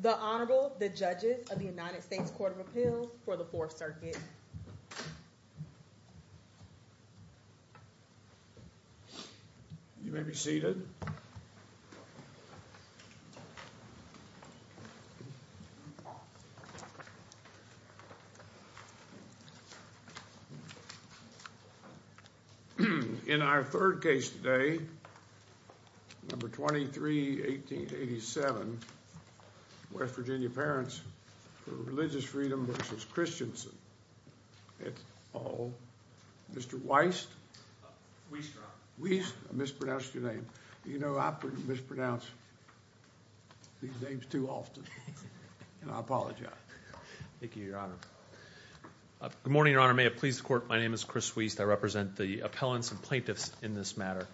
The Honorable, the Judges of the United States Court of Appeals for the Fourth Circuit. You may be seated. In our third case today, number 23, 1887, West Virginia Parents for Religious Freedom v. Christiansen, it's all, Mr. Weist? Weist, I mispronounced your name. You know, I mispronounce these names too often, and I apologize. Thank you, Your Honor. Good morning, Your Honor. May it please the Court, my name is Chris Weist. I represent the appellants and plaintiffs in this matter.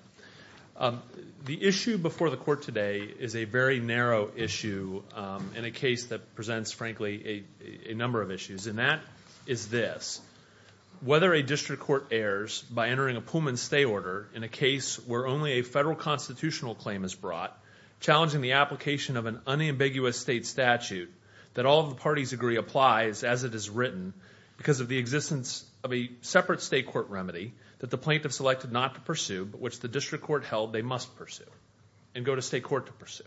The issue before the Court today is a very narrow issue in a case that presents, frankly, a number of issues, and that is this. Whether a district court errs by entering a Pullman stay order in a case where only a federal constitutional claim is brought, challenging the application of an unambiguous state statute that all of the parties agree applies as it is written, because of the existence of a separate state court remedy that the plaintiff selected not to pursue, but which the district court held they must pursue, and go to state court to pursue.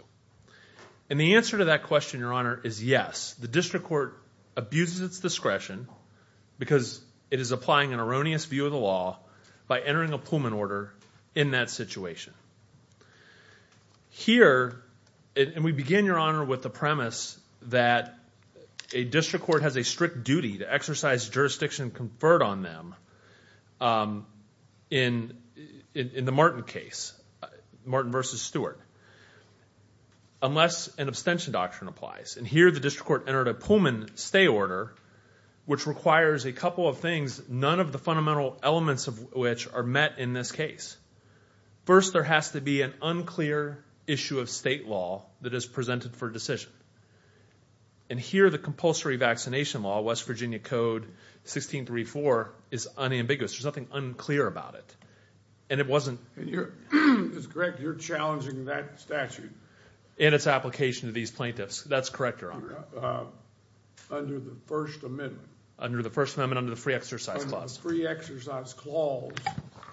And the answer to that question, Your Honor, is yes. The district court abuses its discretion because it is applying an erroneous view of the law by entering a Pullman order in that situation. Here, and we begin, Your Honor, with the premise that a district court has a strict duty to exercise jurisdiction conferred on them in the Martin case, Martin v. Stewart, unless an abstention doctrine applies. And here the district court entered a Pullman stay order, which requires a couple of things, none of the fundamental elements of which are met in this case. First, there has to be an unclear issue of state law that is presented for decision. And here the compulsory vaccination law, West Virginia Code 1634, is unambiguous. There's nothing unclear about it. And it wasn't... It's correct, you're challenging that statute. In its application to these plaintiffs. That's correct, Your Honor. Under the First Amendment. Under the First Amendment, under the Free Exercise Clause. Under the Free Exercise Clause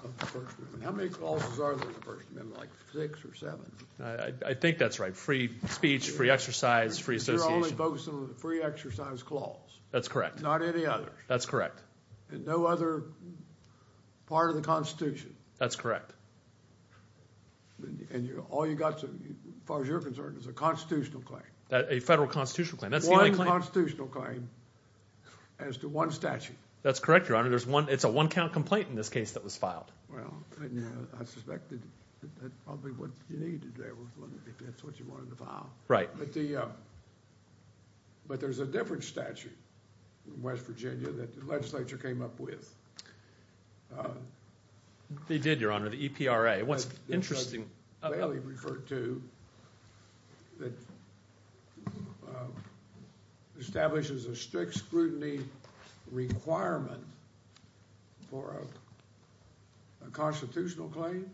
of the First Amendment. How many clauses are there in the First Amendment? Like six or seven? I think that's right. Free speech, free exercise, free association. You're only focusing on the Free Exercise Clause. That's correct. Not any others. That's correct. And no other part of the Constitution. That's correct. And all you've got, as far as you're concerned, is a constitutional claim. A federal constitutional claim. One constitutional claim as to one statute. That's correct, Your Honor. It's a one-count complaint in this case that was filed. Well, I suspected that probably what you needed there was one if that's what you wanted to file. Right. But there's a different statute in West Virginia that the legislature came up with. They did, Your Honor. The EPRA. What's interesting about it. What Bailey referred to that establishes a strict scrutiny requirement for a constitutional claim.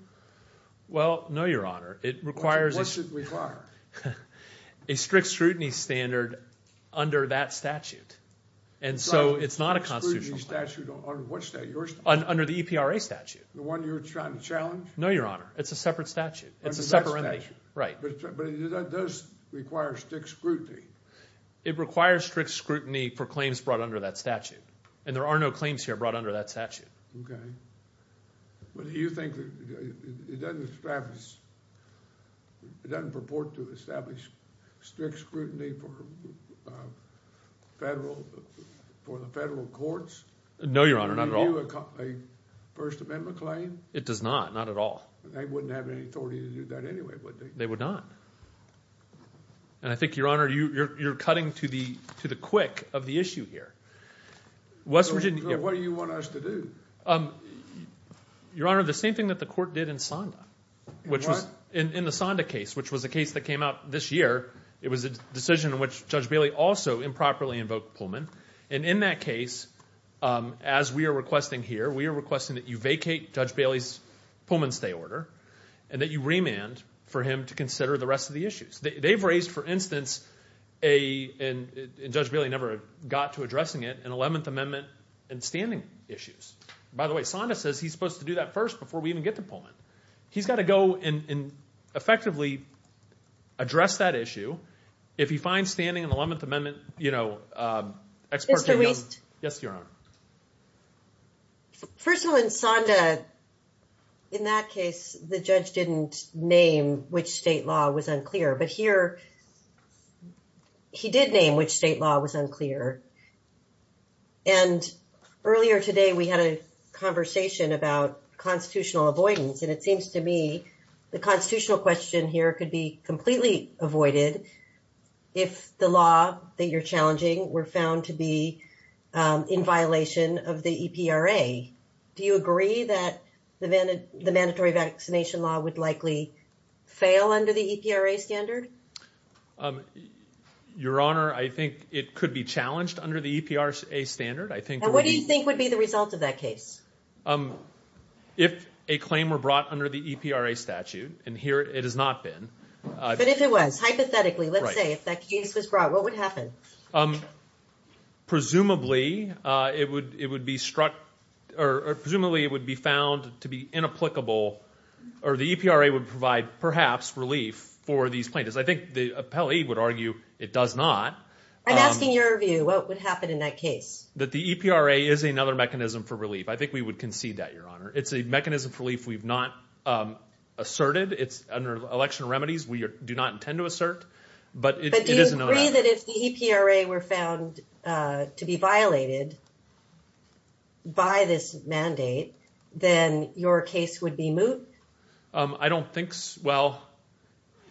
Well, no, Your Honor. What's it require? A strict scrutiny standard under that statute. And so it's not a constitutional claim. Under what statute? Under the EPRA statute. The one you're trying to challenge? No, Your Honor. It's a separate statute. It's a separate statute. Right. But that does require strict scrutiny. It requires strict scrutiny for claims brought under that statute. And there are no claims here brought under that statute. Okay. But do you think it doesn't establish, it doesn't purport to establish strict scrutiny for federal, for the federal courts? No, Your Honor. Not at all. Do you view a First Amendment claim? It does not. Not at all. They wouldn't have any authority to do that anyway, would they? They would not. And I think, Your Honor, you're cutting to the quick of the issue here. What do you want us to do? Your Honor, the same thing that the court did in SONDA. In what? In the SONDA case, which was a case that came out this year. It was a decision in which Judge Bailey also improperly invoked Pullman. And in that case, as we are requesting here, we are requesting that you vacate Judge Bailey's Pullman stay order and that you remand for him to consider the rest of the issues. They've raised, for instance, and Judge Bailey never got to addressing it, an 11th Amendment and standing issues. By the way, SONDA says he's supposed to do that first before we even get to Pullman. He's got to go and effectively address that issue. If he finds standing in the 11th Amendment, you know, experts may be able to… Mr. Wiest? Yes, Your Honor. First of all, in SONDA, in that case, the judge didn't name which state law was unclear. But here, he did name which state law was unclear. And earlier today, we had a conversation about constitutional avoidance. And it seems to me the constitutional question here could be completely avoided if the law that you're challenging were found to be in violation of the EPRA. Do you agree that the mandatory vaccination law would likely fail under the EPRA standard? Your Honor, I think it could be challenged under the EPRA standard. And what do you think would be the result of that case? If a claim were brought under the EPRA statute, and here it has not been… But if it was, hypothetically, let's say if that case was brought, what would happen? Presumably, it would be struck or presumably it would be found to be inapplicable or the EPRA would provide perhaps relief for these plaintiffs. I think the appellee would argue it does not. I'm asking your view. What would happen in that case? That the EPRA is another mechanism for relief. I think we would concede that, Your Honor. It's a mechanism for relief we've not asserted. It's under election remedies we do not intend to assert. But do you agree that if the EPRA were found to be violated by this mandate, then your case would be moot? I don't think so.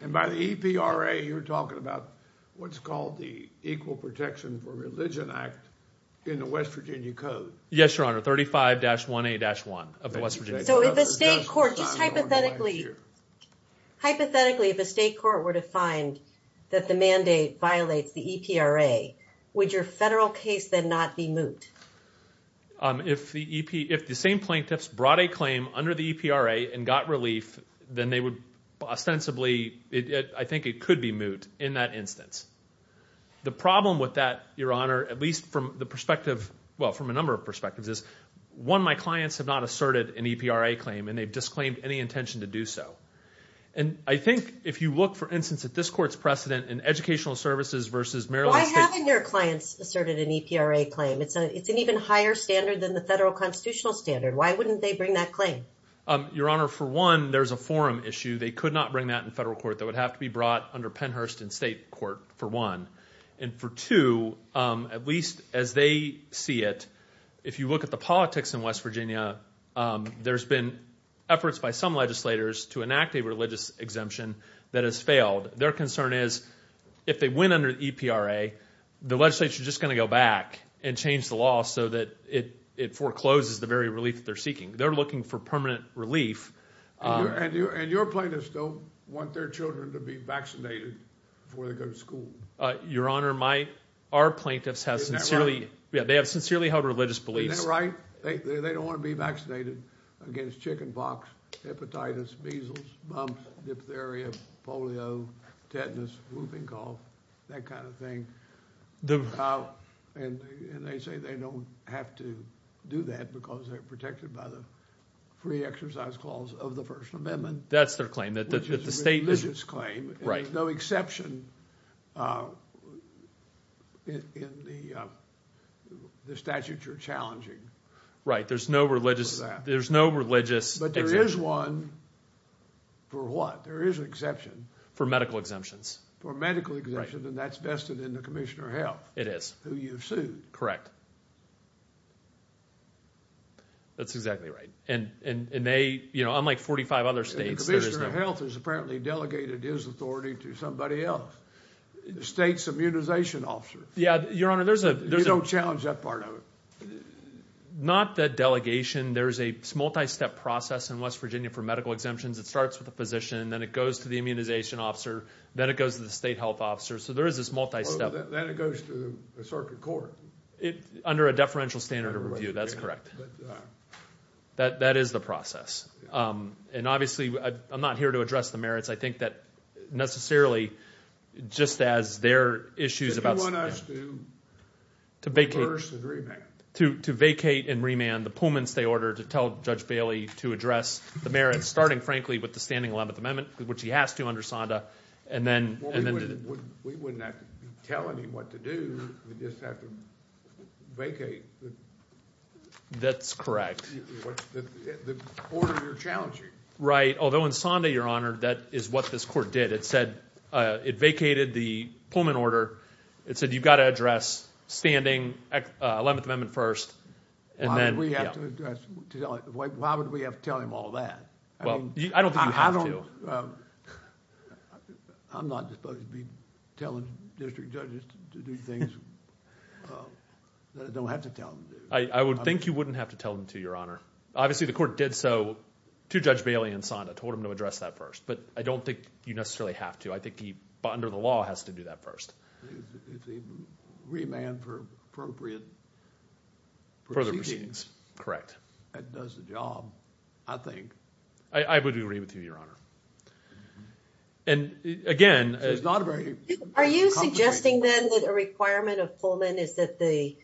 And by the EPRA, you're talking about what's called the Equal Protection for Religion Act in the West Virginia Code. Yes, Your Honor. 35-1A-1 of the West Virginia Code. So if a state court, just hypothetically, hypothetically, if a state court were to find that the mandate violates the EPRA, would your federal case then not be moot? If the same plaintiffs brought a claim under the EPRA and got relief, then they would ostensibly, I think it could be moot in that instance. The problem with that, Your Honor, at least from the perspective, well, from a number of perspectives is, one, my clients have not asserted an EPRA claim and they've disclaimed any intention to do so. And I think if you look, for instance, at this court's precedent in educational services versus Maryland State... It's an even higher standard than the federal constitutional standard. Why wouldn't they bring that claim? Your Honor, for one, there's a forum issue. They could not bring that in federal court. That would have to be brought under Pennhurst in state court, for one. And for two, at least as they see it, if you look at the politics in West Virginia, there's been efforts by some legislators to enact a religious exemption that has failed. Their concern is if they win under the EPRA, the legislature is just going to go back and change the law so that it forecloses the very relief that they're seeking. They're looking for permanent relief. And your plaintiffs don't want their children to be vaccinated before they go to school. Your Honor, our plaintiffs have sincerely held religious beliefs. Isn't that right? They don't want to be vaccinated against chickenpox, hepatitis, measles, mumps, diphtheria, polio, tetanus, whooping cough, that kind of thing. And they say they don't have to do that because they're protected by the free exercise clause of the First Amendment. That's their claim. Which is a religious claim. Right. There's no exception in the statutes you're challenging. Right. There's no religious exemption. But there is one for what? There is an exception. For medical exemptions. For medical exemptions. Right. And that's vested in the Commissioner of Health. It is. Who you've sued. Correct. That's exactly right. And they, you know, unlike 45 other states, there is no— Commissioner of Health has apparently delegated his authority to somebody else. The state's immunization officer. Yeah, Your Honor, there's a— You don't challenge that part of it. Not that delegation. There's a multi-step process in West Virginia for medical exemptions. It starts with the physician, then it goes to the immunization officer, then it goes to the state health officer. So there is this multi-step— Then it goes to the circuit court. Under a deferential standard of review, that's correct. That is the process. And obviously, I'm not here to address the merits. I think that necessarily, just as there are issues about— Did you want us to reverse and remand? To vacate and remand the pullments they ordered to tell Judge Bailey to address the merits, starting, frankly, with the standing 11th Amendment, which he has to under SONDA, and then— We wouldn't have to tell him what to do. We'd just have to vacate. That's correct. The order you're challenging. Right, although in SONDA, Your Honor, that is what this court did. It said it vacated the pullment order. It said you've got to address standing 11th Amendment first, and then— Why would we have to tell him all that? I don't think you have to. I'm not supposed to be telling district judges to do things that I don't have to tell them to do. I would think you wouldn't have to tell him to, Your Honor. Obviously, the court did so to Judge Bailey in SONDA, told him to address that first. But I don't think you necessarily have to. I think he, under the law, has to do that first. Remand for appropriate proceedings. Correct. That does the job, I think. I would agree with you, Your Honor. And again— Are you suggesting, then, that a requirement of Pullman is that the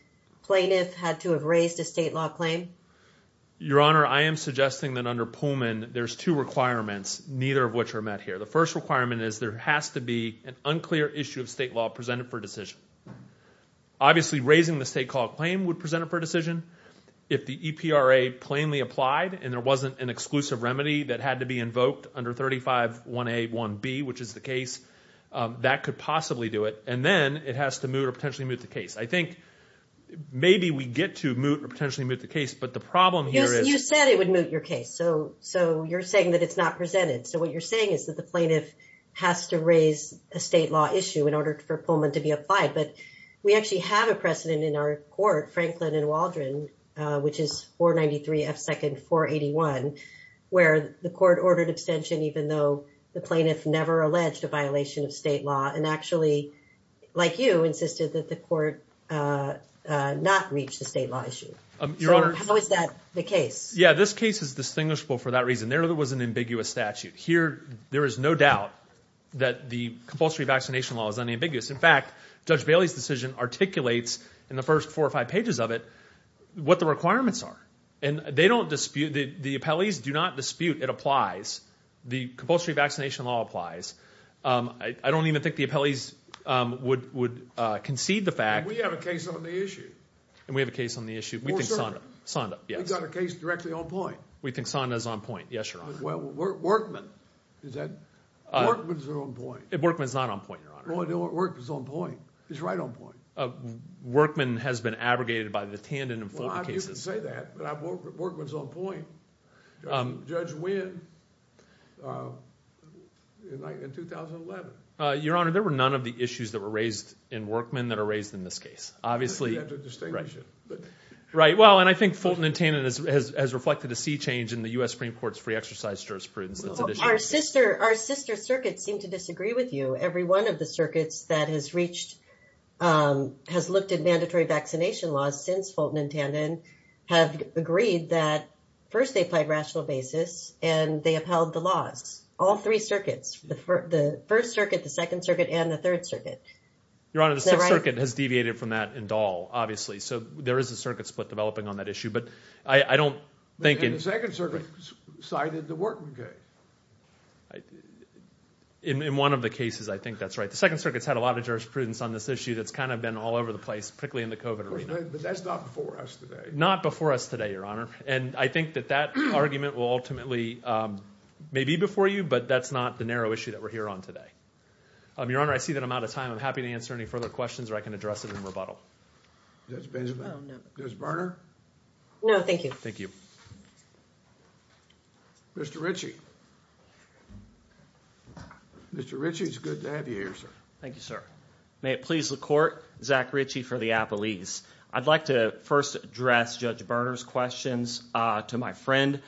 plaintiff had to have raised a state law claim? Your Honor, I am suggesting that under Pullman, there's two requirements, neither of which are met here. The first requirement is there has to be an unclear issue of state law presented for decision. Obviously, raising the state court claim would present it for decision. If the EPRA plainly applied and there wasn't an exclusive remedy that had to be invoked under 35-1A-1B, which is the case, that could possibly do it. And then it has to moot or potentially moot the case. I think maybe we get to moot or potentially moot the case, but the problem here is— You said it would moot your case, so you're saying that it's not presented. So what you're saying is that the plaintiff has to raise a state law issue in order for Pullman to be applied. But we actually have a precedent in our court, Franklin and Waldron, which is 493 F. 2nd. 481, where the court ordered abstention even though the plaintiff never alleged a violation of state law and actually, like you, insisted that the court not reach the state law issue. So how is that the case? Yeah, this case is distinguishable for that reason. There was an ambiguous statute. Here, there is no doubt that the compulsory vaccination law is unambiguous. In fact, Judge Bailey's decision articulates in the first four or five pages of it what the requirements are. And they don't dispute—the appellees do not dispute it applies. The compulsory vaccination law applies. I don't even think the appellees would concede the fact— And we have a case on the issue. And we have a case on the issue. We think Sonda—Sonda, yes. We've got a case directly on point. We think Sonda is on point, yes, Your Honor. Workman, is that—Workman is on point. Workman is not on point, Your Honor. Workman's on point. He's right on point. Workman has been abrogated by the Tandon and Fulton cases. Well, I'm used to saying that, but Workman's on point. Judge Wynn in 2011. Your Honor, there were none of the issues that were raised in Workman that are raised in this case. Obviously— You have to distinguish it. Right. Well, and I think Fulton and Tandon has reflected a sea change in the U.S. Supreme Court's free exercise jurisprudence. Our sister circuits seem to disagree with you. Every one of the circuits that has reached—has looked at mandatory vaccination laws since Fulton and Tandon have agreed that first they applied rational basis and they upheld the laws. All three circuits. The First Circuit, the Second Circuit, and the Third Circuit. Your Honor, the Sixth Circuit has deviated from that in Dahl, obviously. So there is a circuit split developing on that issue. But I don't think— In one of the cases, I think that's right. The Second Circuit's had a lot of jurisprudence on this issue that's kind of been all over the place, particularly in the COVID arena. But that's not before us today. Not before us today, Your Honor. And I think that that argument will ultimately—may be before you, but that's not the narrow issue that we're here on today. Your Honor, I see that I'm out of time. I'm happy to answer any further questions, or I can address it in rebuttal. Judge Berner? No, thank you. Thank you. Mr. Ritchie? Mr. Ritchie, it's good to have you here, sir. Thank you, sir. May it please the Court, Zach Ritchie for the Appellees. I'd like to first address Judge Berner's questions to my friend.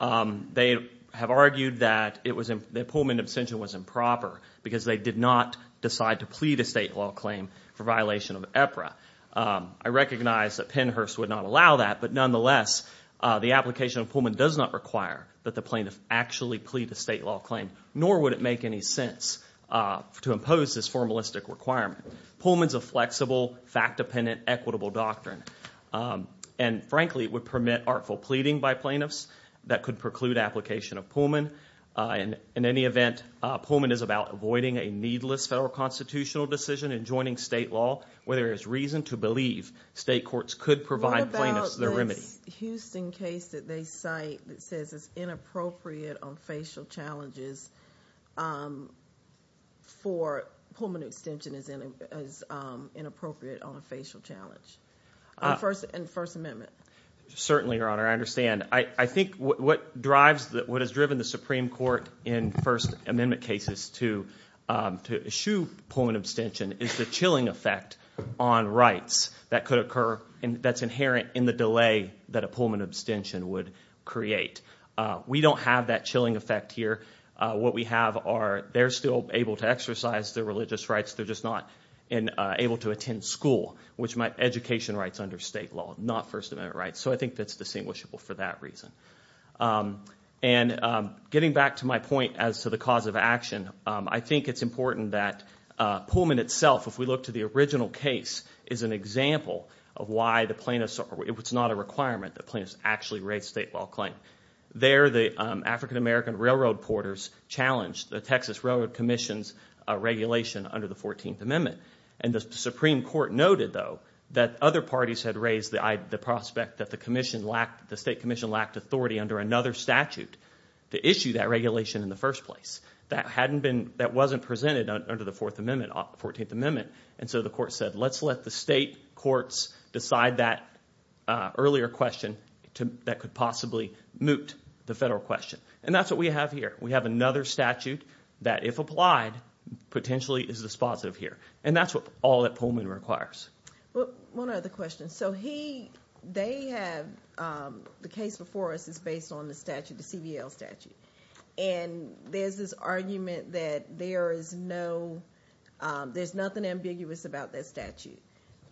They have argued that the Pullman abstention was improper because they did not decide to plead a state law claim for violation of EPRA. I recognize that Pennhurst would not allow that, but nonetheless, the application of Pullman does not require that the plaintiff actually plead a state law claim, nor would it make any sense to impose this formalistic requirement. Pullman's a flexible, fact-dependent, equitable doctrine. And frankly, it would permit artful pleading by plaintiffs that could preclude application of Pullman. In any event, Pullman is about avoiding a needless federal constitutional decision and joining state law where there is reason to believe state courts could provide plaintiffs the remedy. What about this Houston case that they cite that says it's inappropriate on facial challenges for Pullman abstention as inappropriate on a facial challenge in the First Amendment? Certainly, Your Honor, I understand. And I think what drives – what has driven the Supreme Court in First Amendment cases to eschew Pullman abstention is the chilling effect on rights that could occur that's inherent in the delay that a Pullman abstention would create. We don't have that chilling effect here. What we have are they're still able to exercise their religious rights. They're just not able to attend school, which might – education rights under state law, not First Amendment rights. So I think that's distinguishable for that reason. And getting back to my point as to the cause of action, I think it's important that Pullman itself, if we look to the original case, is an example of why the plaintiffs – it's not a requirement that plaintiffs actually raise state law claim. There the African-American railroad porters challenged the Texas Railroad Commission's regulation under the 14th Amendment. And the Supreme Court noted, though, that other parties had raised the prospect that the commission lacked – the state commission lacked authority under another statute to issue that regulation in the first place. That hadn't been – that wasn't presented under the Fourth Amendment – 14th Amendment. And so the court said let's let the state courts decide that earlier question that could possibly moot the federal question. And that's what we have here. We have another statute that, if applied, potentially is dispositive here. And that's all that Pullman requires. Well, one other question. So he – they have – the case before us is based on the statute, the CBL statute. And there's this argument that there is no – there's nothing ambiguous about that statute.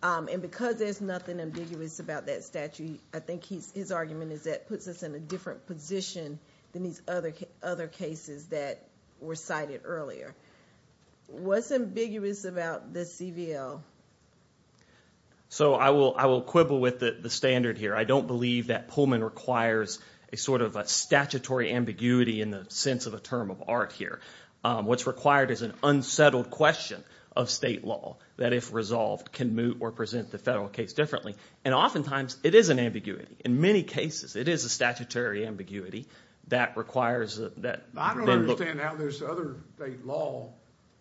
And because there's nothing ambiguous about that statute, I think his argument is that it puts us in a different position than these other cases that were cited earlier. What's ambiguous about the CBL? So I will quibble with the standard here. I don't believe that Pullman requires a sort of statutory ambiguity in the sense of a term of art here. What's required is an unsettled question of state law that, if resolved, can moot or present the federal case differently. And oftentimes it is an ambiguity. In many cases it is a statutory ambiguity that requires that – I don't understand how this other state law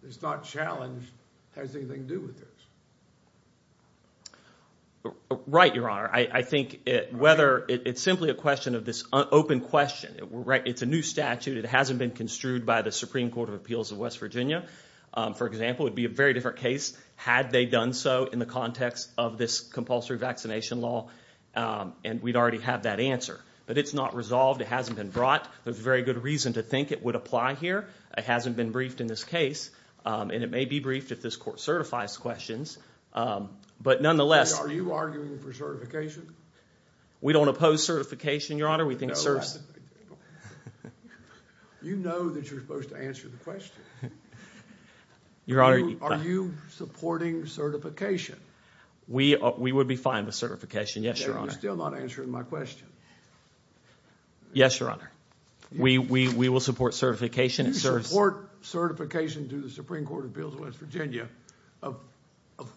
that's not challenged has anything to do with this. Right, Your Honor. I think whether – it's simply a question of this open question. It's a new statute. It hasn't been construed by the Supreme Court of Appeals of West Virginia, for example. It would be a very different case had they done so in the context of this compulsory vaccination law, and we'd already have that answer. But it's not resolved. It hasn't been brought. There's very good reason to think it would apply here. It hasn't been briefed in this case, and it may be briefed if this court certifies questions. But nonetheless – Are you arguing for certification? We don't oppose certification, Your Honor. You know that you're supposed to answer the question. Are you supporting certification? We would be fine with certification, yes, Your Honor. You're still not answering my question. Yes, Your Honor. We will support certification. If you support certification to the Supreme Court of Appeals of West Virginia, of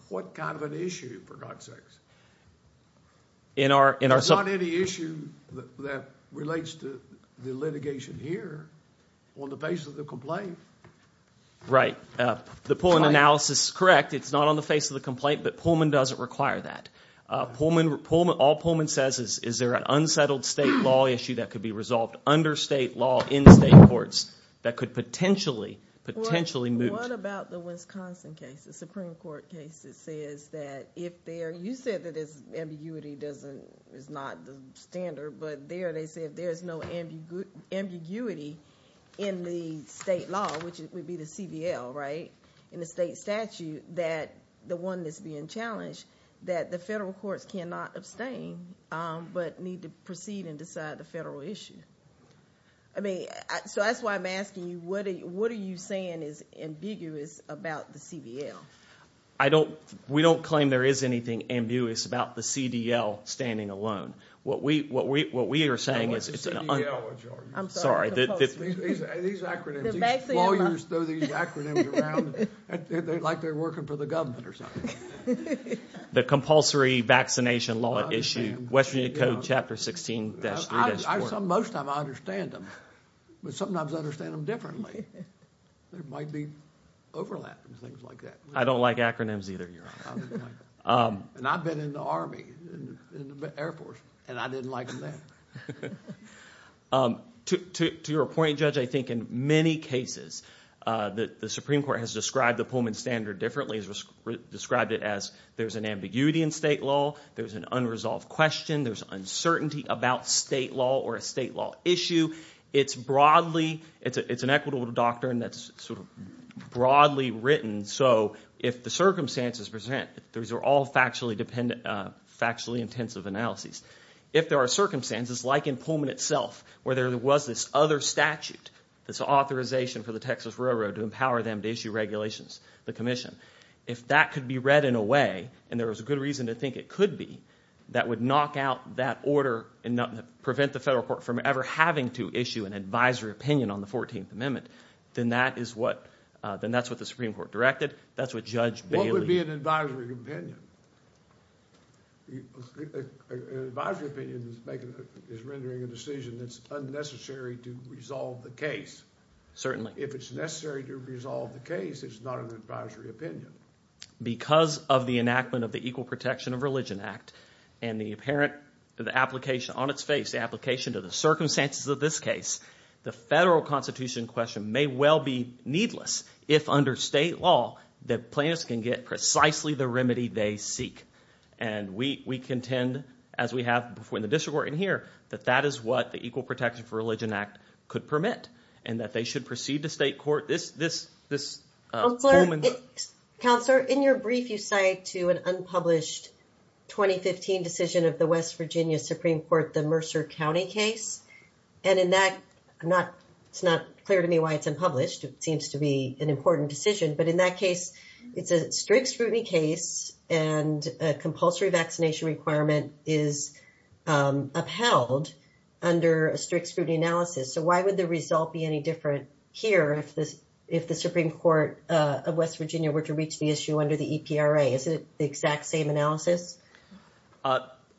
what kind of an issue, for God's sakes? There's not any issue that relates to the litigation here on the basis of the complaint. Right. The Pullman analysis is correct. It's not on the face of the complaint, but Pullman doesn't require that. All Pullman says is there an unsettled state law issue that could be resolved under state law in state courts that could potentially move – What about the Wisconsin case, the Supreme Court case that says that if there – You said that ambiguity is not the standard, but there they said there's no ambiguity in the state law, which would be the CBL, right, in the state statute, that the one that's being challenged, that the federal courts cannot abstain but need to proceed and decide the federal issue. I mean, so that's why I'm asking you, what are you saying is ambiguous about the CBL? I don't – we don't claim there is anything ambiguous about the CDL standing alone. What we are saying is it's an – I'm sorry. These acronyms, these lawyers throw these acronyms around like they're working for the government or something. The compulsory vaccination law issue, West Virginia Code Chapter 16-3-4. Most of them I understand them, but sometimes I understand them differently. There might be overlap and things like that. I don't like acronyms either, Your Honor. And I've been in the Army, in the Air Force, and I didn't like them then. To your point, Judge, I think in many cases the Supreme Court has described the Pullman standard differently. It has described it as there's an ambiguity in state law. There's an unresolved question. There's uncertainty about state law or a state law issue. It's broadly – it's an equitable doctrine that's sort of broadly written. So if the circumstances present, these are all factually dependent – factually intensive analyses. If there are circumstances like in Pullman itself where there was this other statute, this authorization for the Texas Railroad to empower them to issue regulations, the commission, if that could be read in a way, and there was a good reason to think it could be, that would knock out that order and prevent the federal court from ever having to issue an advisory opinion on the 14th Amendment, then that is what – then that's what the Supreme Court directed. That's what Judge Bailey – What would be an advisory opinion? An advisory opinion is rendering a decision that's unnecessary to resolve the case. Certainly. If it's necessary to resolve the case, it's not an advisory opinion. Because of the enactment of the Equal Protection of Religion Act and the apparent – the application on its face, the application to the circumstances of this case, the federal constitution question may well be needless if under state law the plaintiffs can get precisely the remedy they seek. And we contend, as we have before in the district court and here, that that is what the Equal Protection for Religion Act could permit and that they should proceed to state court. This Pullman – Counselor, in your brief you cite to an unpublished 2015 decision of the West Virginia Supreme Court, the Mercer County case. And in that – it's not clear to me why it's unpublished. It seems to be an important decision. But in that case, it's a strict scrutiny case and a compulsory vaccination requirement is upheld under a strict scrutiny analysis. So why would the result be any different here if the Supreme Court of West Virginia were to reach the issue under the EPRA? Isn't it the exact same analysis?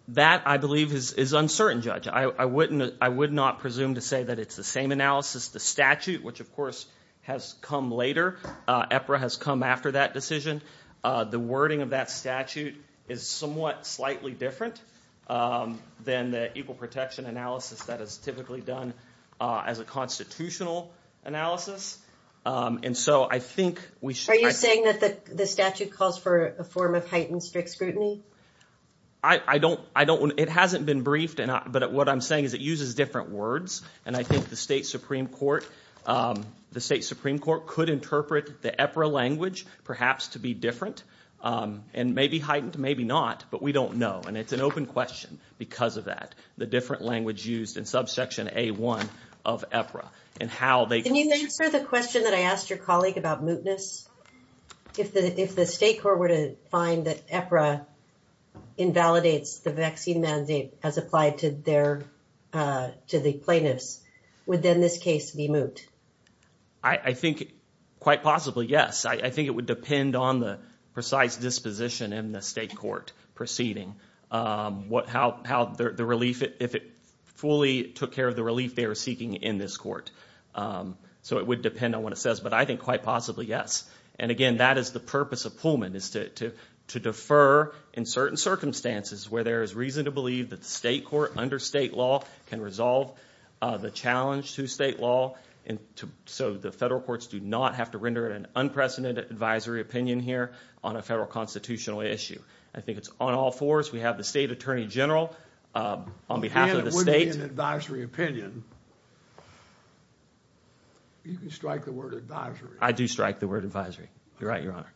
That, I believe, is uncertain, Judge. I wouldn't – I would not presume to say that it's the same analysis. The statute, which of course has come later, EPRA has come after that decision. The wording of that statute is somewhat slightly different than the equal protection analysis that is typically done as a constitutional analysis. And so I think we should – Are you saying that the statute calls for a form of heightened strict scrutiny? I don't – it hasn't been briefed, but what I'm saying is it uses different words. And I think the state Supreme Court could interpret the EPRA language perhaps to be different and maybe heightened, maybe not, but we don't know. And it's an open question because of that, the different language used in subsection A1 of EPRA and how they – Can you answer the question that I asked your colleague about mootness? If the state court were to find that EPRA invalidates the vaccine mandate as applied to their – to the plaintiffs, would then this case be moot? I think quite possibly, yes. I think it would depend on the precise disposition in the state court proceeding, how the relief – if it fully took care of the relief they were seeking in this court. So it would depend on what it says, but I think quite possibly, yes. And again, that is the purpose of Pullman is to defer in certain circumstances where there is reason to believe that the state court under state law can resolve the challenge to state law. And so the federal courts do not have to render an unprecedented advisory opinion here on a federal constitutional issue. I think it's on all fours. We have the state attorney general on behalf of the state. In an advisory opinion, you can strike the word advisory. I do strike the word advisory. You're right, Your Honor.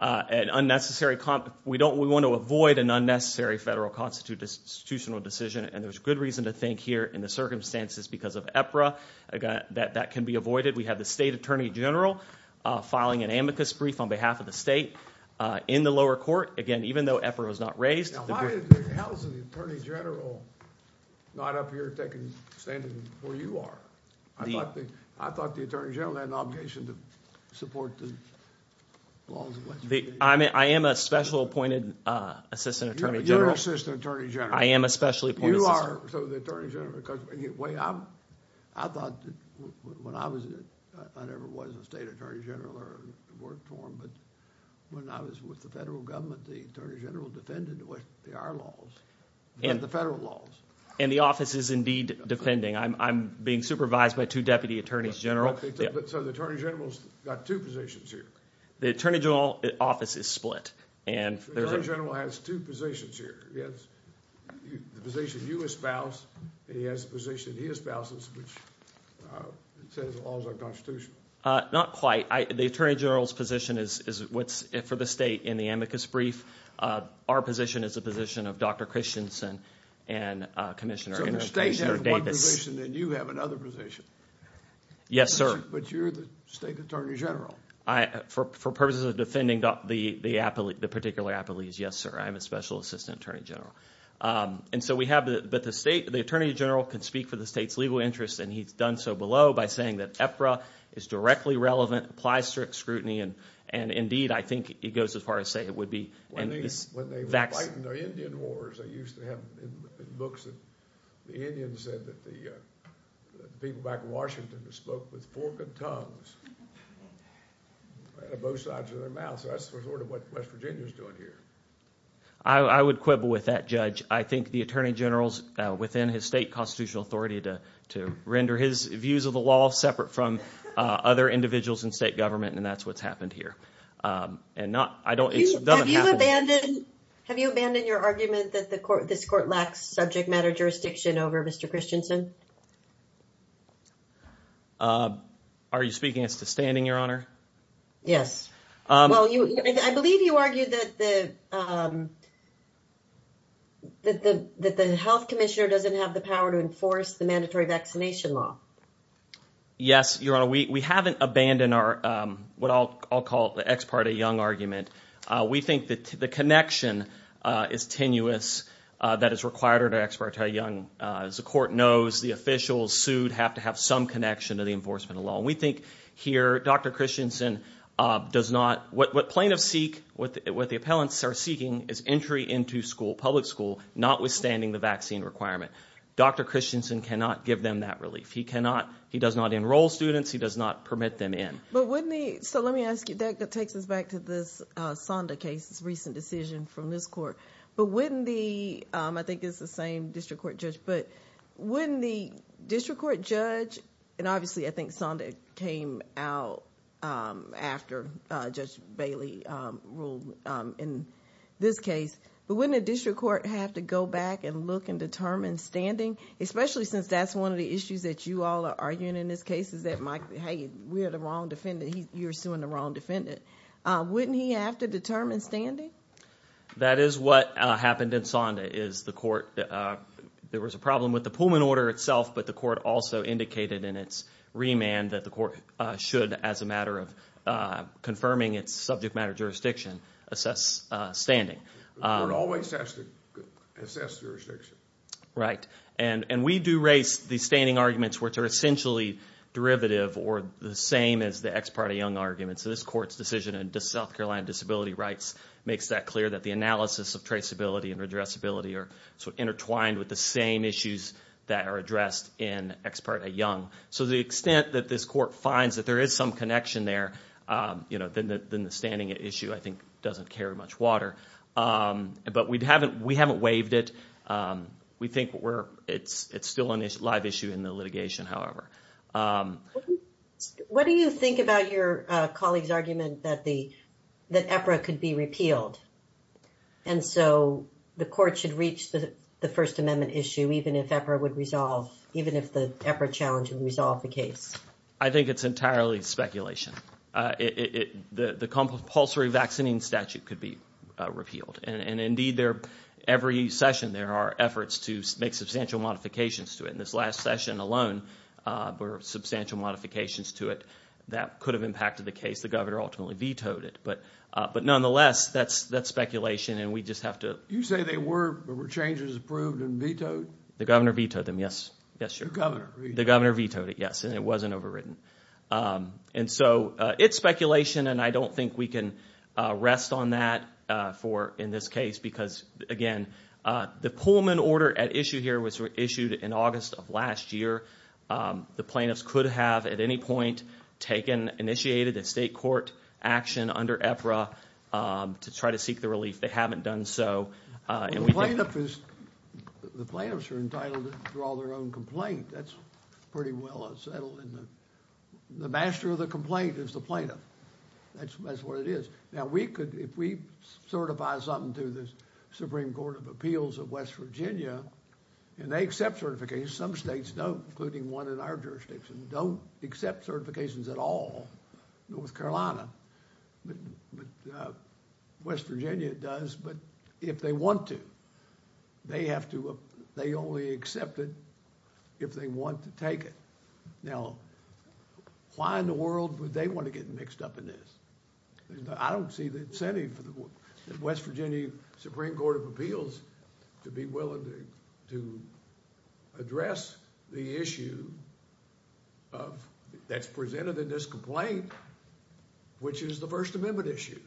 An unnecessary – we don't – we want to avoid an unnecessary federal constitutional decision, and there's good reason to think here in the circumstances because of EPRA that that can be avoided. We have the state attorney general filing an amicus brief on behalf of the state in the lower court. Again, even though EPRA was not raised – Now, why is the housing attorney general not up here standing where you are? I thought the attorney general had an obligation to support the laws of legislature. I am a special appointed assistant attorney general. You're an assistant attorney general. I am a special appointed assistant. You are. So the attorney general – I thought when I was – I never was a state attorney general or worked for them. But when I was with the federal government, the attorney general defended what are laws, the federal laws. And the office is indeed defending. I'm being supervised by two deputy attorneys general. So the attorney general has got two positions here. The attorney general office is split, and there's a – The attorney general has two positions here. He has the position you espouse, and he has the position he espouses, which says the laws are constitutional. Not quite. The attorney general's position is what's for the state in the amicus brief. Our position is the position of Dr. Christensen and Commissioner Davis. So the state has one position, and you have another position. Yes, sir. But you're the state attorney general. For purposes of defending the particular appellees, yes, sir. I'm a special assistant attorney general. And so we have – but the state – the attorney general can speak for the state's legal interests, and he's done so below by saying that EFRA is directly relevant, applies strict scrutiny, and indeed I think he goes as far as saying it would be – When they were fighting the Indian Wars, they used to have in books that the Indians said that the people back in Washington spoke with forked tongues. They had a bow tied to their mouth. So that's sort of what West Virginia is doing here. I would quibble with that, Judge. I think the attorney general is within his state constitutional authority to render his views of the law separate from other individuals in state government, and that's what's happened here. And not – I don't – it doesn't happen. Have you abandoned your argument that this court lacks subject matter jurisdiction over Mr. Christensen? Are you speaking as to standing, Your Honor? Yes. Well, I believe you argued that the health commissioner doesn't have the power to enforce the mandatory vaccination law. Yes, Your Honor. We haven't abandoned our – what I'll call the Ex parte Young argument. We think that the connection is tenuous that is required under Ex parte Young. As the court knows, the officials sued have to have some connection to the enforcement of the law. And we think here Dr. Christensen does not – what plaintiffs seek, what the appellants are seeking is entry into school, public school, notwithstanding the vaccine requirement. Dr. Christensen cannot give them that relief. He cannot – he does not enroll students. He does not permit them in. But wouldn't he – so let me ask you – that takes us back to this Sonda case, this recent decision from this court. But wouldn't the – I think it's the same district court judge. But wouldn't the district court judge – and obviously I think Sonda came out after Judge Bailey ruled in this case. But wouldn't a district court have to go back and look and determine standing, especially since that's one of the issues that you all are arguing in this case is that, hey, we're the wrong defendant. You're suing the wrong defendant. Wouldn't he have to determine standing? That is what happened in Sonda is the court – there was a problem with the Pullman order itself. But the court also indicated in its remand that the court should, as a matter of confirming its subject matter jurisdiction, assess standing. The court always has to assess jurisdiction. Right, and we do raise the standing arguments, which are essentially derivative or the same as the ex parte Young argument. So this court's decision in South Carolina Disability Rights makes that clear that the analysis of traceability and addressability are sort of intertwined with the same issues that are addressed in ex parte Young. So to the extent that this court finds that there is some connection there, then the standing issue I think doesn't carry much water. But we haven't waived it. We think it's still a live issue in the litigation, however. What do you think about your colleague's argument that the – that EPRA could be repealed? And so the court should reach the First Amendment issue even if EPRA would resolve – even if the EPRA challenge would resolve the case? I think it's entirely speculation. The compulsory vaccinating statute could be repealed. And indeed, every session there are efforts to make substantial modifications to it. And this last session alone were substantial modifications to it that could have impacted the case. The governor ultimately vetoed it. But nonetheless, that's speculation, and we just have to – You say they were – there were changes approved and vetoed? The governor vetoed them, yes. The governor vetoed it. The governor vetoed it, yes, and it wasn't overridden. And so it's speculation, and I don't think we can rest on that for – in this case because, again, the Pullman order at issue here was issued in August of last year. The plaintiffs could have at any point taken – initiated a state court action under EPRA to try to seek the relief. They haven't done so. Well, the plaintiff is – the plaintiffs are entitled to draw their own complaint. That's pretty well settled, and the master of the complaint is the plaintiff. That's what it is. Now, we could – if we certify something to the Supreme Court of Appeals of West Virginia, and they accept certifications. Some states don't, including one in our jurisdiction, don't accept certifications at all, North Carolina. But West Virginia does, but if they want to. They have to – they only accept it if they want to take it. Now, why in the world would they want to get mixed up in this? I don't see the incentive for the West Virginia Supreme Court of Appeals to be willing to address the issue of – that's presented in this complaint, which is the First Amendment issue.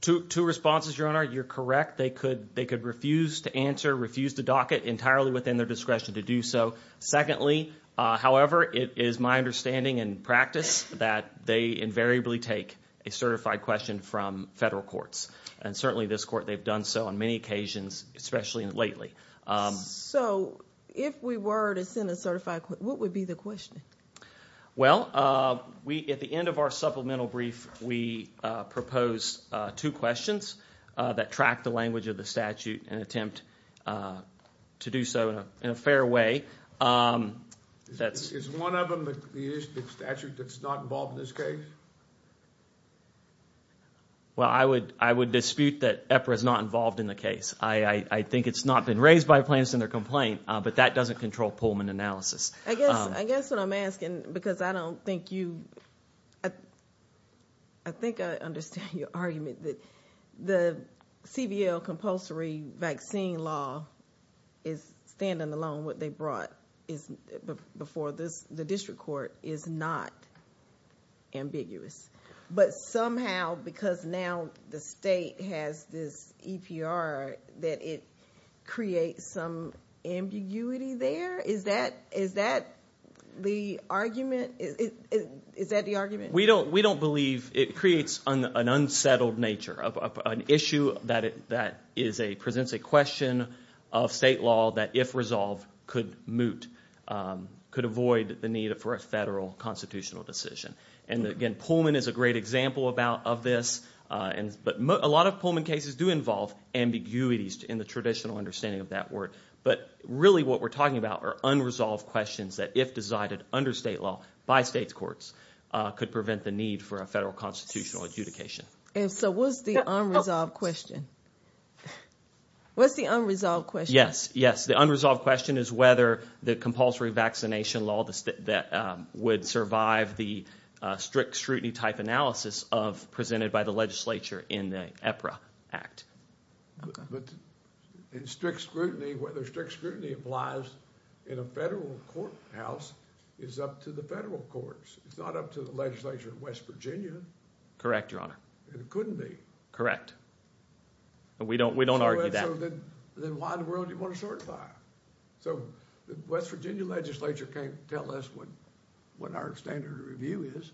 Two responses, Your Honor. You're correct. They could refuse to answer, refuse to dock it entirely within their discretion to do so. Secondly, however, it is my understanding and practice that they invariably take a certified question from federal courts. And certainly this court, they've done so on many occasions, especially lately. So if we were to send a certified – what would be the question? Well, we – at the end of our supplemental brief, we propose two questions that track the language of the statute and attempt to do so in a fair way. Is one of them the issue of the statute that's not involved in this case? Well, I would dispute that EPRA is not involved in the case. I think it's not been raised by plaintiffs in their complaint, but that doesn't control Pullman analysis. I guess what I'm asking, because I don't think you – I think I understand your argument that the CBL compulsory vaccine law is standing alone. What they brought before the district court is not ambiguous. But somehow, because now the state has this EPRA, that it creates some ambiguity there? Is that the argument? We don't believe it creates an unsettled nature, an issue that presents a question of state law that, if resolved, could moot, could avoid the need for a federal constitutional decision. And again, Pullman is a great example of this. But a lot of Pullman cases do involve ambiguities in the traditional understanding of that word. But really what we're talking about are unresolved questions that, if decided under state law by states' courts, could prevent the need for a federal constitutional adjudication. And so what's the unresolved question? What's the unresolved question? Yes, yes, the unresolved question is whether the compulsory vaccination law would survive the strict scrutiny-type analysis presented by the legislature in the EPRA Act. But in strict scrutiny, whether strict scrutiny applies in a federal courthouse is up to the federal courts. It's not up to the legislature in West Virginia. Correct, Your Honor. And it couldn't be. Correct. We don't argue that. Then why in the world do you want to certify? So the West Virginia legislature can't tell us what our standard of review is.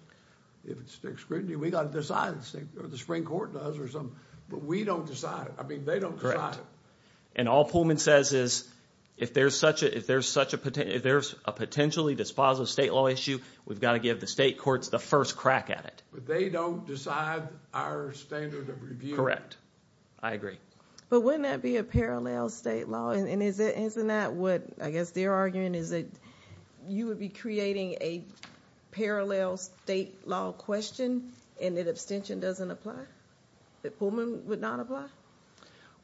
If it's strict scrutiny, we've got to decide. The Supreme Court does or something. But we don't decide it. I mean, they don't decide it. And all Pullman says is, if there's a potentially dispositive state law issue, we've got to give the state courts the first crack at it. But they don't decide our standard of review. Correct. I agree. But wouldn't that be a parallel state law? And isn't that what I guess they're arguing is that you would be creating a parallel state law question and that abstention doesn't apply? That Pullman would not apply?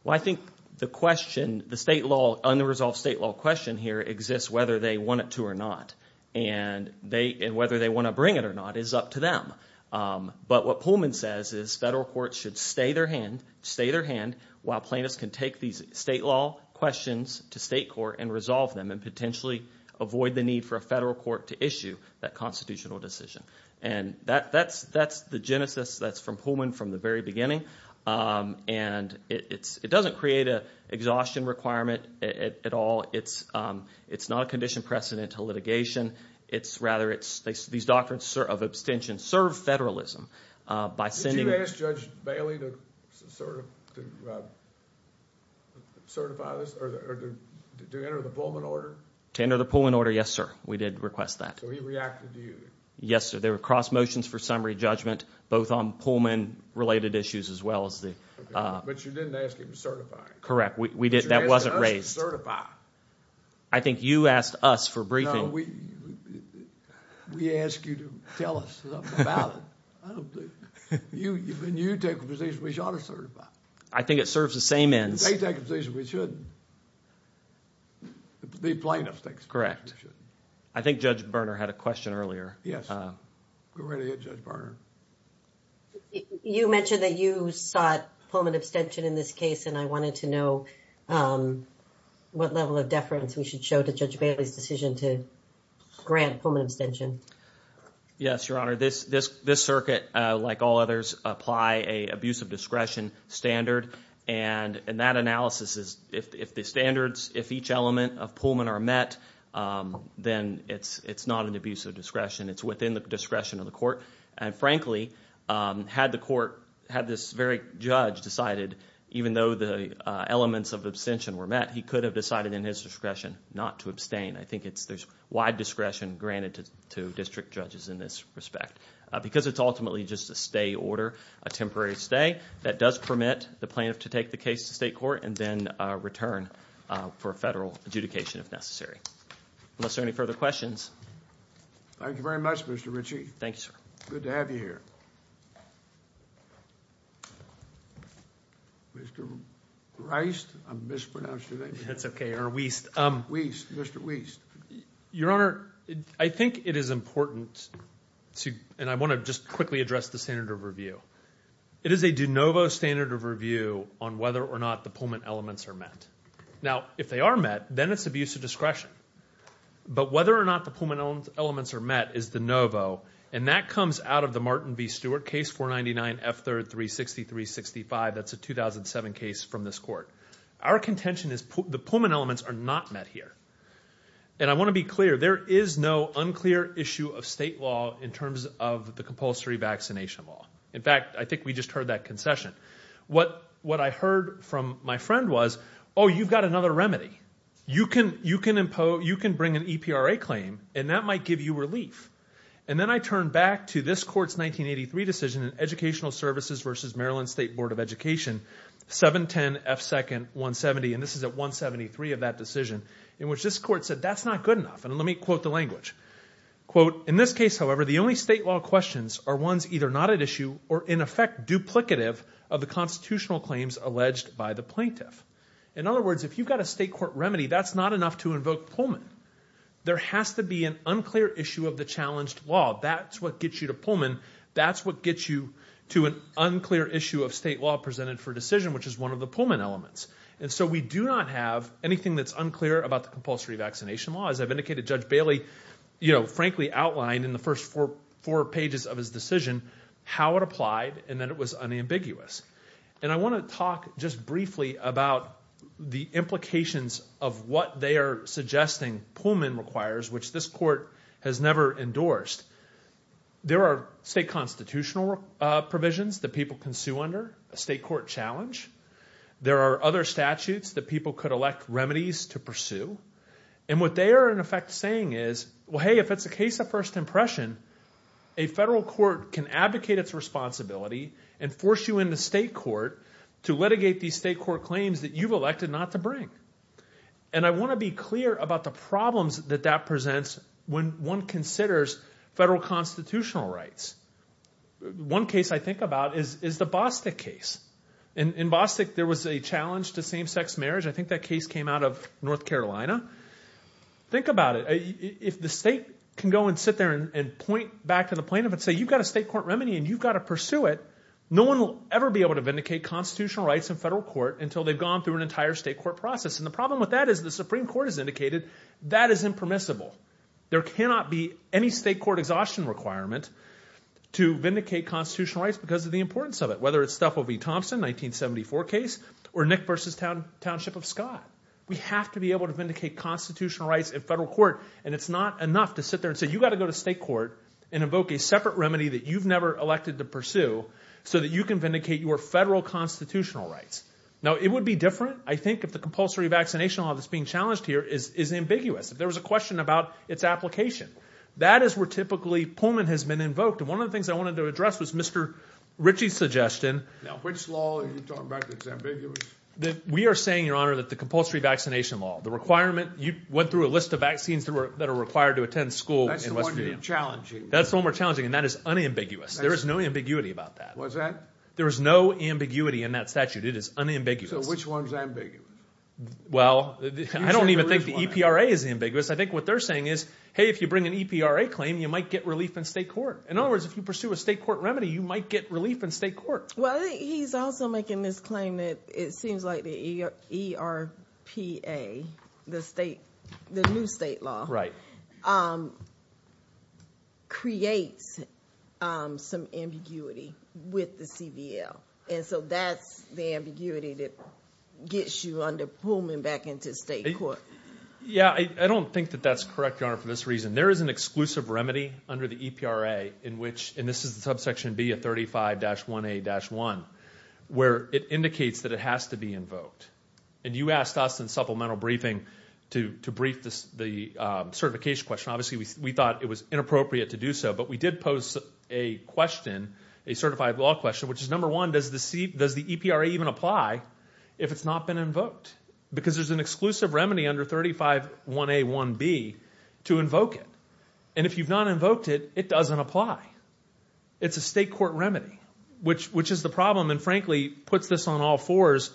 Well, I think the question, the state law, unresolved state law question here exists whether they want it to or not. And whether they want to bring it or not is up to them. But what Pullman says is federal courts should stay their hand while plaintiffs can take these state law questions to state court and resolve them and potentially avoid the need for a federal court to issue that constitutional decision. And that's the genesis that's from Pullman from the very beginning. And it doesn't create an exhaustion requirement at all. It's not a condition precedent to litigation. Rather, these doctrines of abstention serve federalism by sending – Did you ask Judge Bailey to certify this or to enter the Pullman order? To enter the Pullman order, yes, sir. We did request that. So he reacted to you? Yes, sir. There were cross motions for summary judgment both on Pullman-related issues as well as the – But you didn't ask him to certify. Correct. That wasn't raised. But you asked us to certify. I think you asked us for briefing. We asked you to tell us about it. I don't think – When you take a position, we ought to certify. I think it serves the same ends. They take a position we shouldn't. The plaintiffs take a position we shouldn't. Correct. I think Judge Berner had a question earlier. Yes. Go right ahead, Judge Berner. You mentioned that you sought Pullman abstention in this case, and I wanted to know what level of deference we should show to Judge Bailey's decision to grant Pullman abstention. Yes, Your Honor. This circuit, like all others, apply an abuse of discretion standard, and that analysis is if the standards, if each element of Pullman are met, then it's not an abuse of discretion. It's within the discretion of the court. And frankly, had the court – had this very judge decided, even though the elements of abstention were met, he could have decided in his discretion not to abstain. I think there's wide discretion granted to district judges in this respect because it's ultimately just a stay order, a temporary stay that does permit the plaintiff to take the case to state court and then return for federal adjudication if necessary. Unless there are any further questions. Thank you very much, Mr. Ritchie. Thank you, sir. Good to have you here. Mr. Reist, I mispronounced your name. That's okay, or Weist. Weist, Mr. Weist. Your Honor, I think it is important to – and I want to just quickly address the standard of review. It is a de novo standard of review on whether or not the Pullman elements are met. Now, if they are met, then it's abuse of discretion. But whether or not the Pullman elements are met is de novo, and that comes out of the Martin v. Stewart case, 499 F3rd 360-365. That's a 2007 case from this court. Our contention is the Pullman elements are not met here. And I want to be clear. There is no unclear issue of state law in terms of the compulsory vaccination law. In fact, I think we just heard that concession. What I heard from my friend was, oh, you've got another remedy. You can bring an EPRA claim, and that might give you relief. And then I turn back to this court's 1983 decision in Educational Services v. Maryland State Board of Education, 710 F2nd 170. And this is at 173 of that decision, in which this court said that's not good enough. And let me quote the language. Quote, in this case, however, the only state law questions are ones either not at issue or, in effect, duplicative of the constitutional claims alleged by the plaintiff. In other words, if you've got a state court remedy, that's not enough to invoke Pullman. There has to be an unclear issue of the challenged law. That's what gets you to Pullman. That's what gets you to an unclear issue of state law presented for decision, which is one of the Pullman elements. And so we do not have anything that's unclear about the compulsory vaccination law. As I've indicated, Judge Bailey, you know, frankly outlined in the first four pages of his decision how it applied and that it was unambiguous. And I want to talk just briefly about the implications of what they are suggesting Pullman requires, which this court has never endorsed. There are state constitutional provisions that people can sue under, a state court challenge. There are other statutes that people could elect remedies to pursue. And what they are, in effect, saying is, well, hey, if it's a case of first impression, a federal court can advocate its responsibility and force you into state court to litigate these state court claims that you've elected not to bring. And I want to be clear about the problems that that presents when one considers federal constitutional rights. One case I think about is the Bostick case. In Bostick, there was a challenge to same-sex marriage. I think that case came out of North Carolina. Think about it. If the state can go and sit there and point back to the plaintiff and say, you've got a state court remedy and you've got to pursue it, no one will ever be able to vindicate constitutional rights in federal court until they've gone through an entire state court process. And the problem with that is the Supreme Court has indicated that is impermissible. There cannot be any state court exhaustion requirement to vindicate constitutional rights because of the importance of it, whether it's the Thompson 1974 case or Nick versus Township of Scott. We have to be able to vindicate constitutional rights in federal court, and it's not enough to sit there and say, you've got to go to state court and invoke a separate remedy that you've never elected to pursue so that you can vindicate your federal constitutional rights. Now, it would be different, I think, if the compulsory vaccination law that's being challenged here is ambiguous. If there was a question about its application, that is where typically Pullman has been invoked. And one of the things I wanted to address was Mr. Ritchie's suggestion. Now, which law are you talking about that's ambiguous? We are saying, Your Honor, that the compulsory vaccination law, the requirement – you went through a list of vaccines that are required to attend school in West Virginia. That's the one you're challenging. That's the one we're challenging, and that is unambiguous. There is no ambiguity about that. What's that? There is no ambiguity in that statute. It is unambiguous. So which one is ambiguous? Well, I don't even think the EPRA is ambiguous. I think what they're saying is, hey, if you bring an EPRA claim, you might get relief in state court. In other words, if you pursue a state court remedy, you might get relief in state court. Well, I think he's also making this claim that it seems like the ERPA, the new state law, creates some ambiguity with the CBL. And so that's the ambiguity that gets you under Pullman back into state court. Yeah, I don't think that that's correct, Your Honor, for this reason. There is an exclusive remedy under the EPRA in which, and this is the subsection B of 35-1A-1, where it indicates that it has to be invoked. And you asked us in supplemental briefing to brief the certification question. Obviously, we thought it was inappropriate to do so, but we did pose a question, a certified law question, which is, number one, does the EPRA even apply if it's not been invoked? Because there's an exclusive remedy under 35-1A-1B to invoke it. And if you've not invoked it, it doesn't apply. It's a state court remedy, which is the problem and frankly puts this on all fours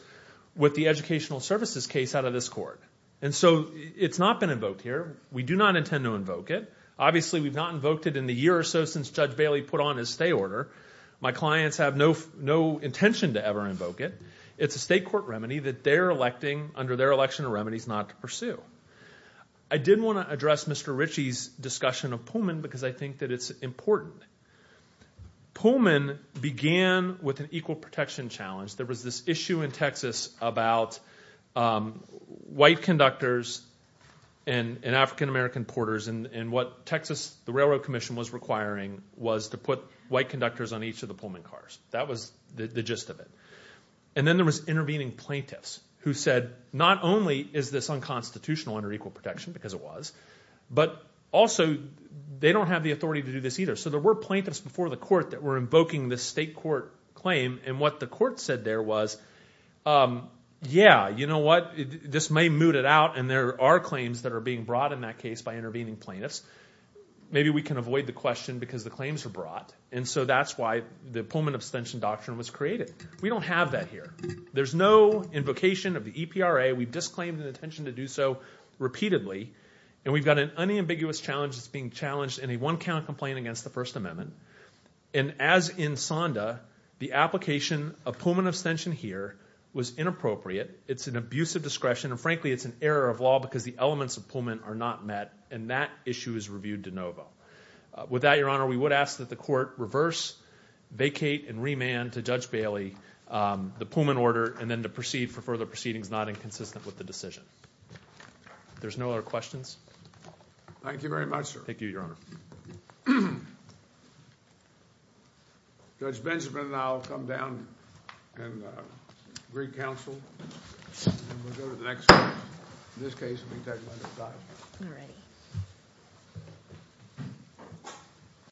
with the educational services case out of this court. And so it's not been invoked here. We do not intend to invoke it. Obviously, we've not invoked it in the year or so since Judge Bailey put on his stay order. My clients have no intention to ever invoke it. It's a state court remedy that they're electing under their election of remedies not to pursue. I did want to address Mr. Ritchie's discussion of Pullman because I think that it's important. Pullman began with an equal protection challenge. There was this issue in Texas about white conductors and African-American porters. And what Texas Railroad Commission was requiring was to put white conductors on each of the Pullman cars. That was the gist of it. And then there was intervening plaintiffs who said not only is this unconstitutional under equal protection, because it was, but also they don't have the authority to do this either. So there were plaintiffs before the court that were invoking this state court claim. And what the court said there was, yeah, you know what, this may moot it out, and there are claims that are being brought in that case by intervening plaintiffs. Maybe we can avoid the question because the claims were brought. And so that's why the Pullman abstention doctrine was created. We don't have that here. There's no invocation of the EPRA. We've disclaimed an intention to do so repeatedly, and we've got an unambiguous challenge that's being challenged in a one-count complaint against the First Amendment. And as in SONDA, the application of Pullman abstention here was inappropriate. It's an abuse of discretion, and frankly it's an error of law because the elements of Pullman are not met, and that issue is reviewed de novo. With that, Your Honor, we would ask that the court reverse, vacate, and remand to Judge Bailey the Pullman order and then to proceed for further proceedings not inconsistent with the decision. If there's no other questions. Thank you very much, sir. Thank you, Your Honor. Judge Benjamin and I will come down and agree counsel, and then we'll go to the next court. In this case, we'll be talking under the doctrine. All right.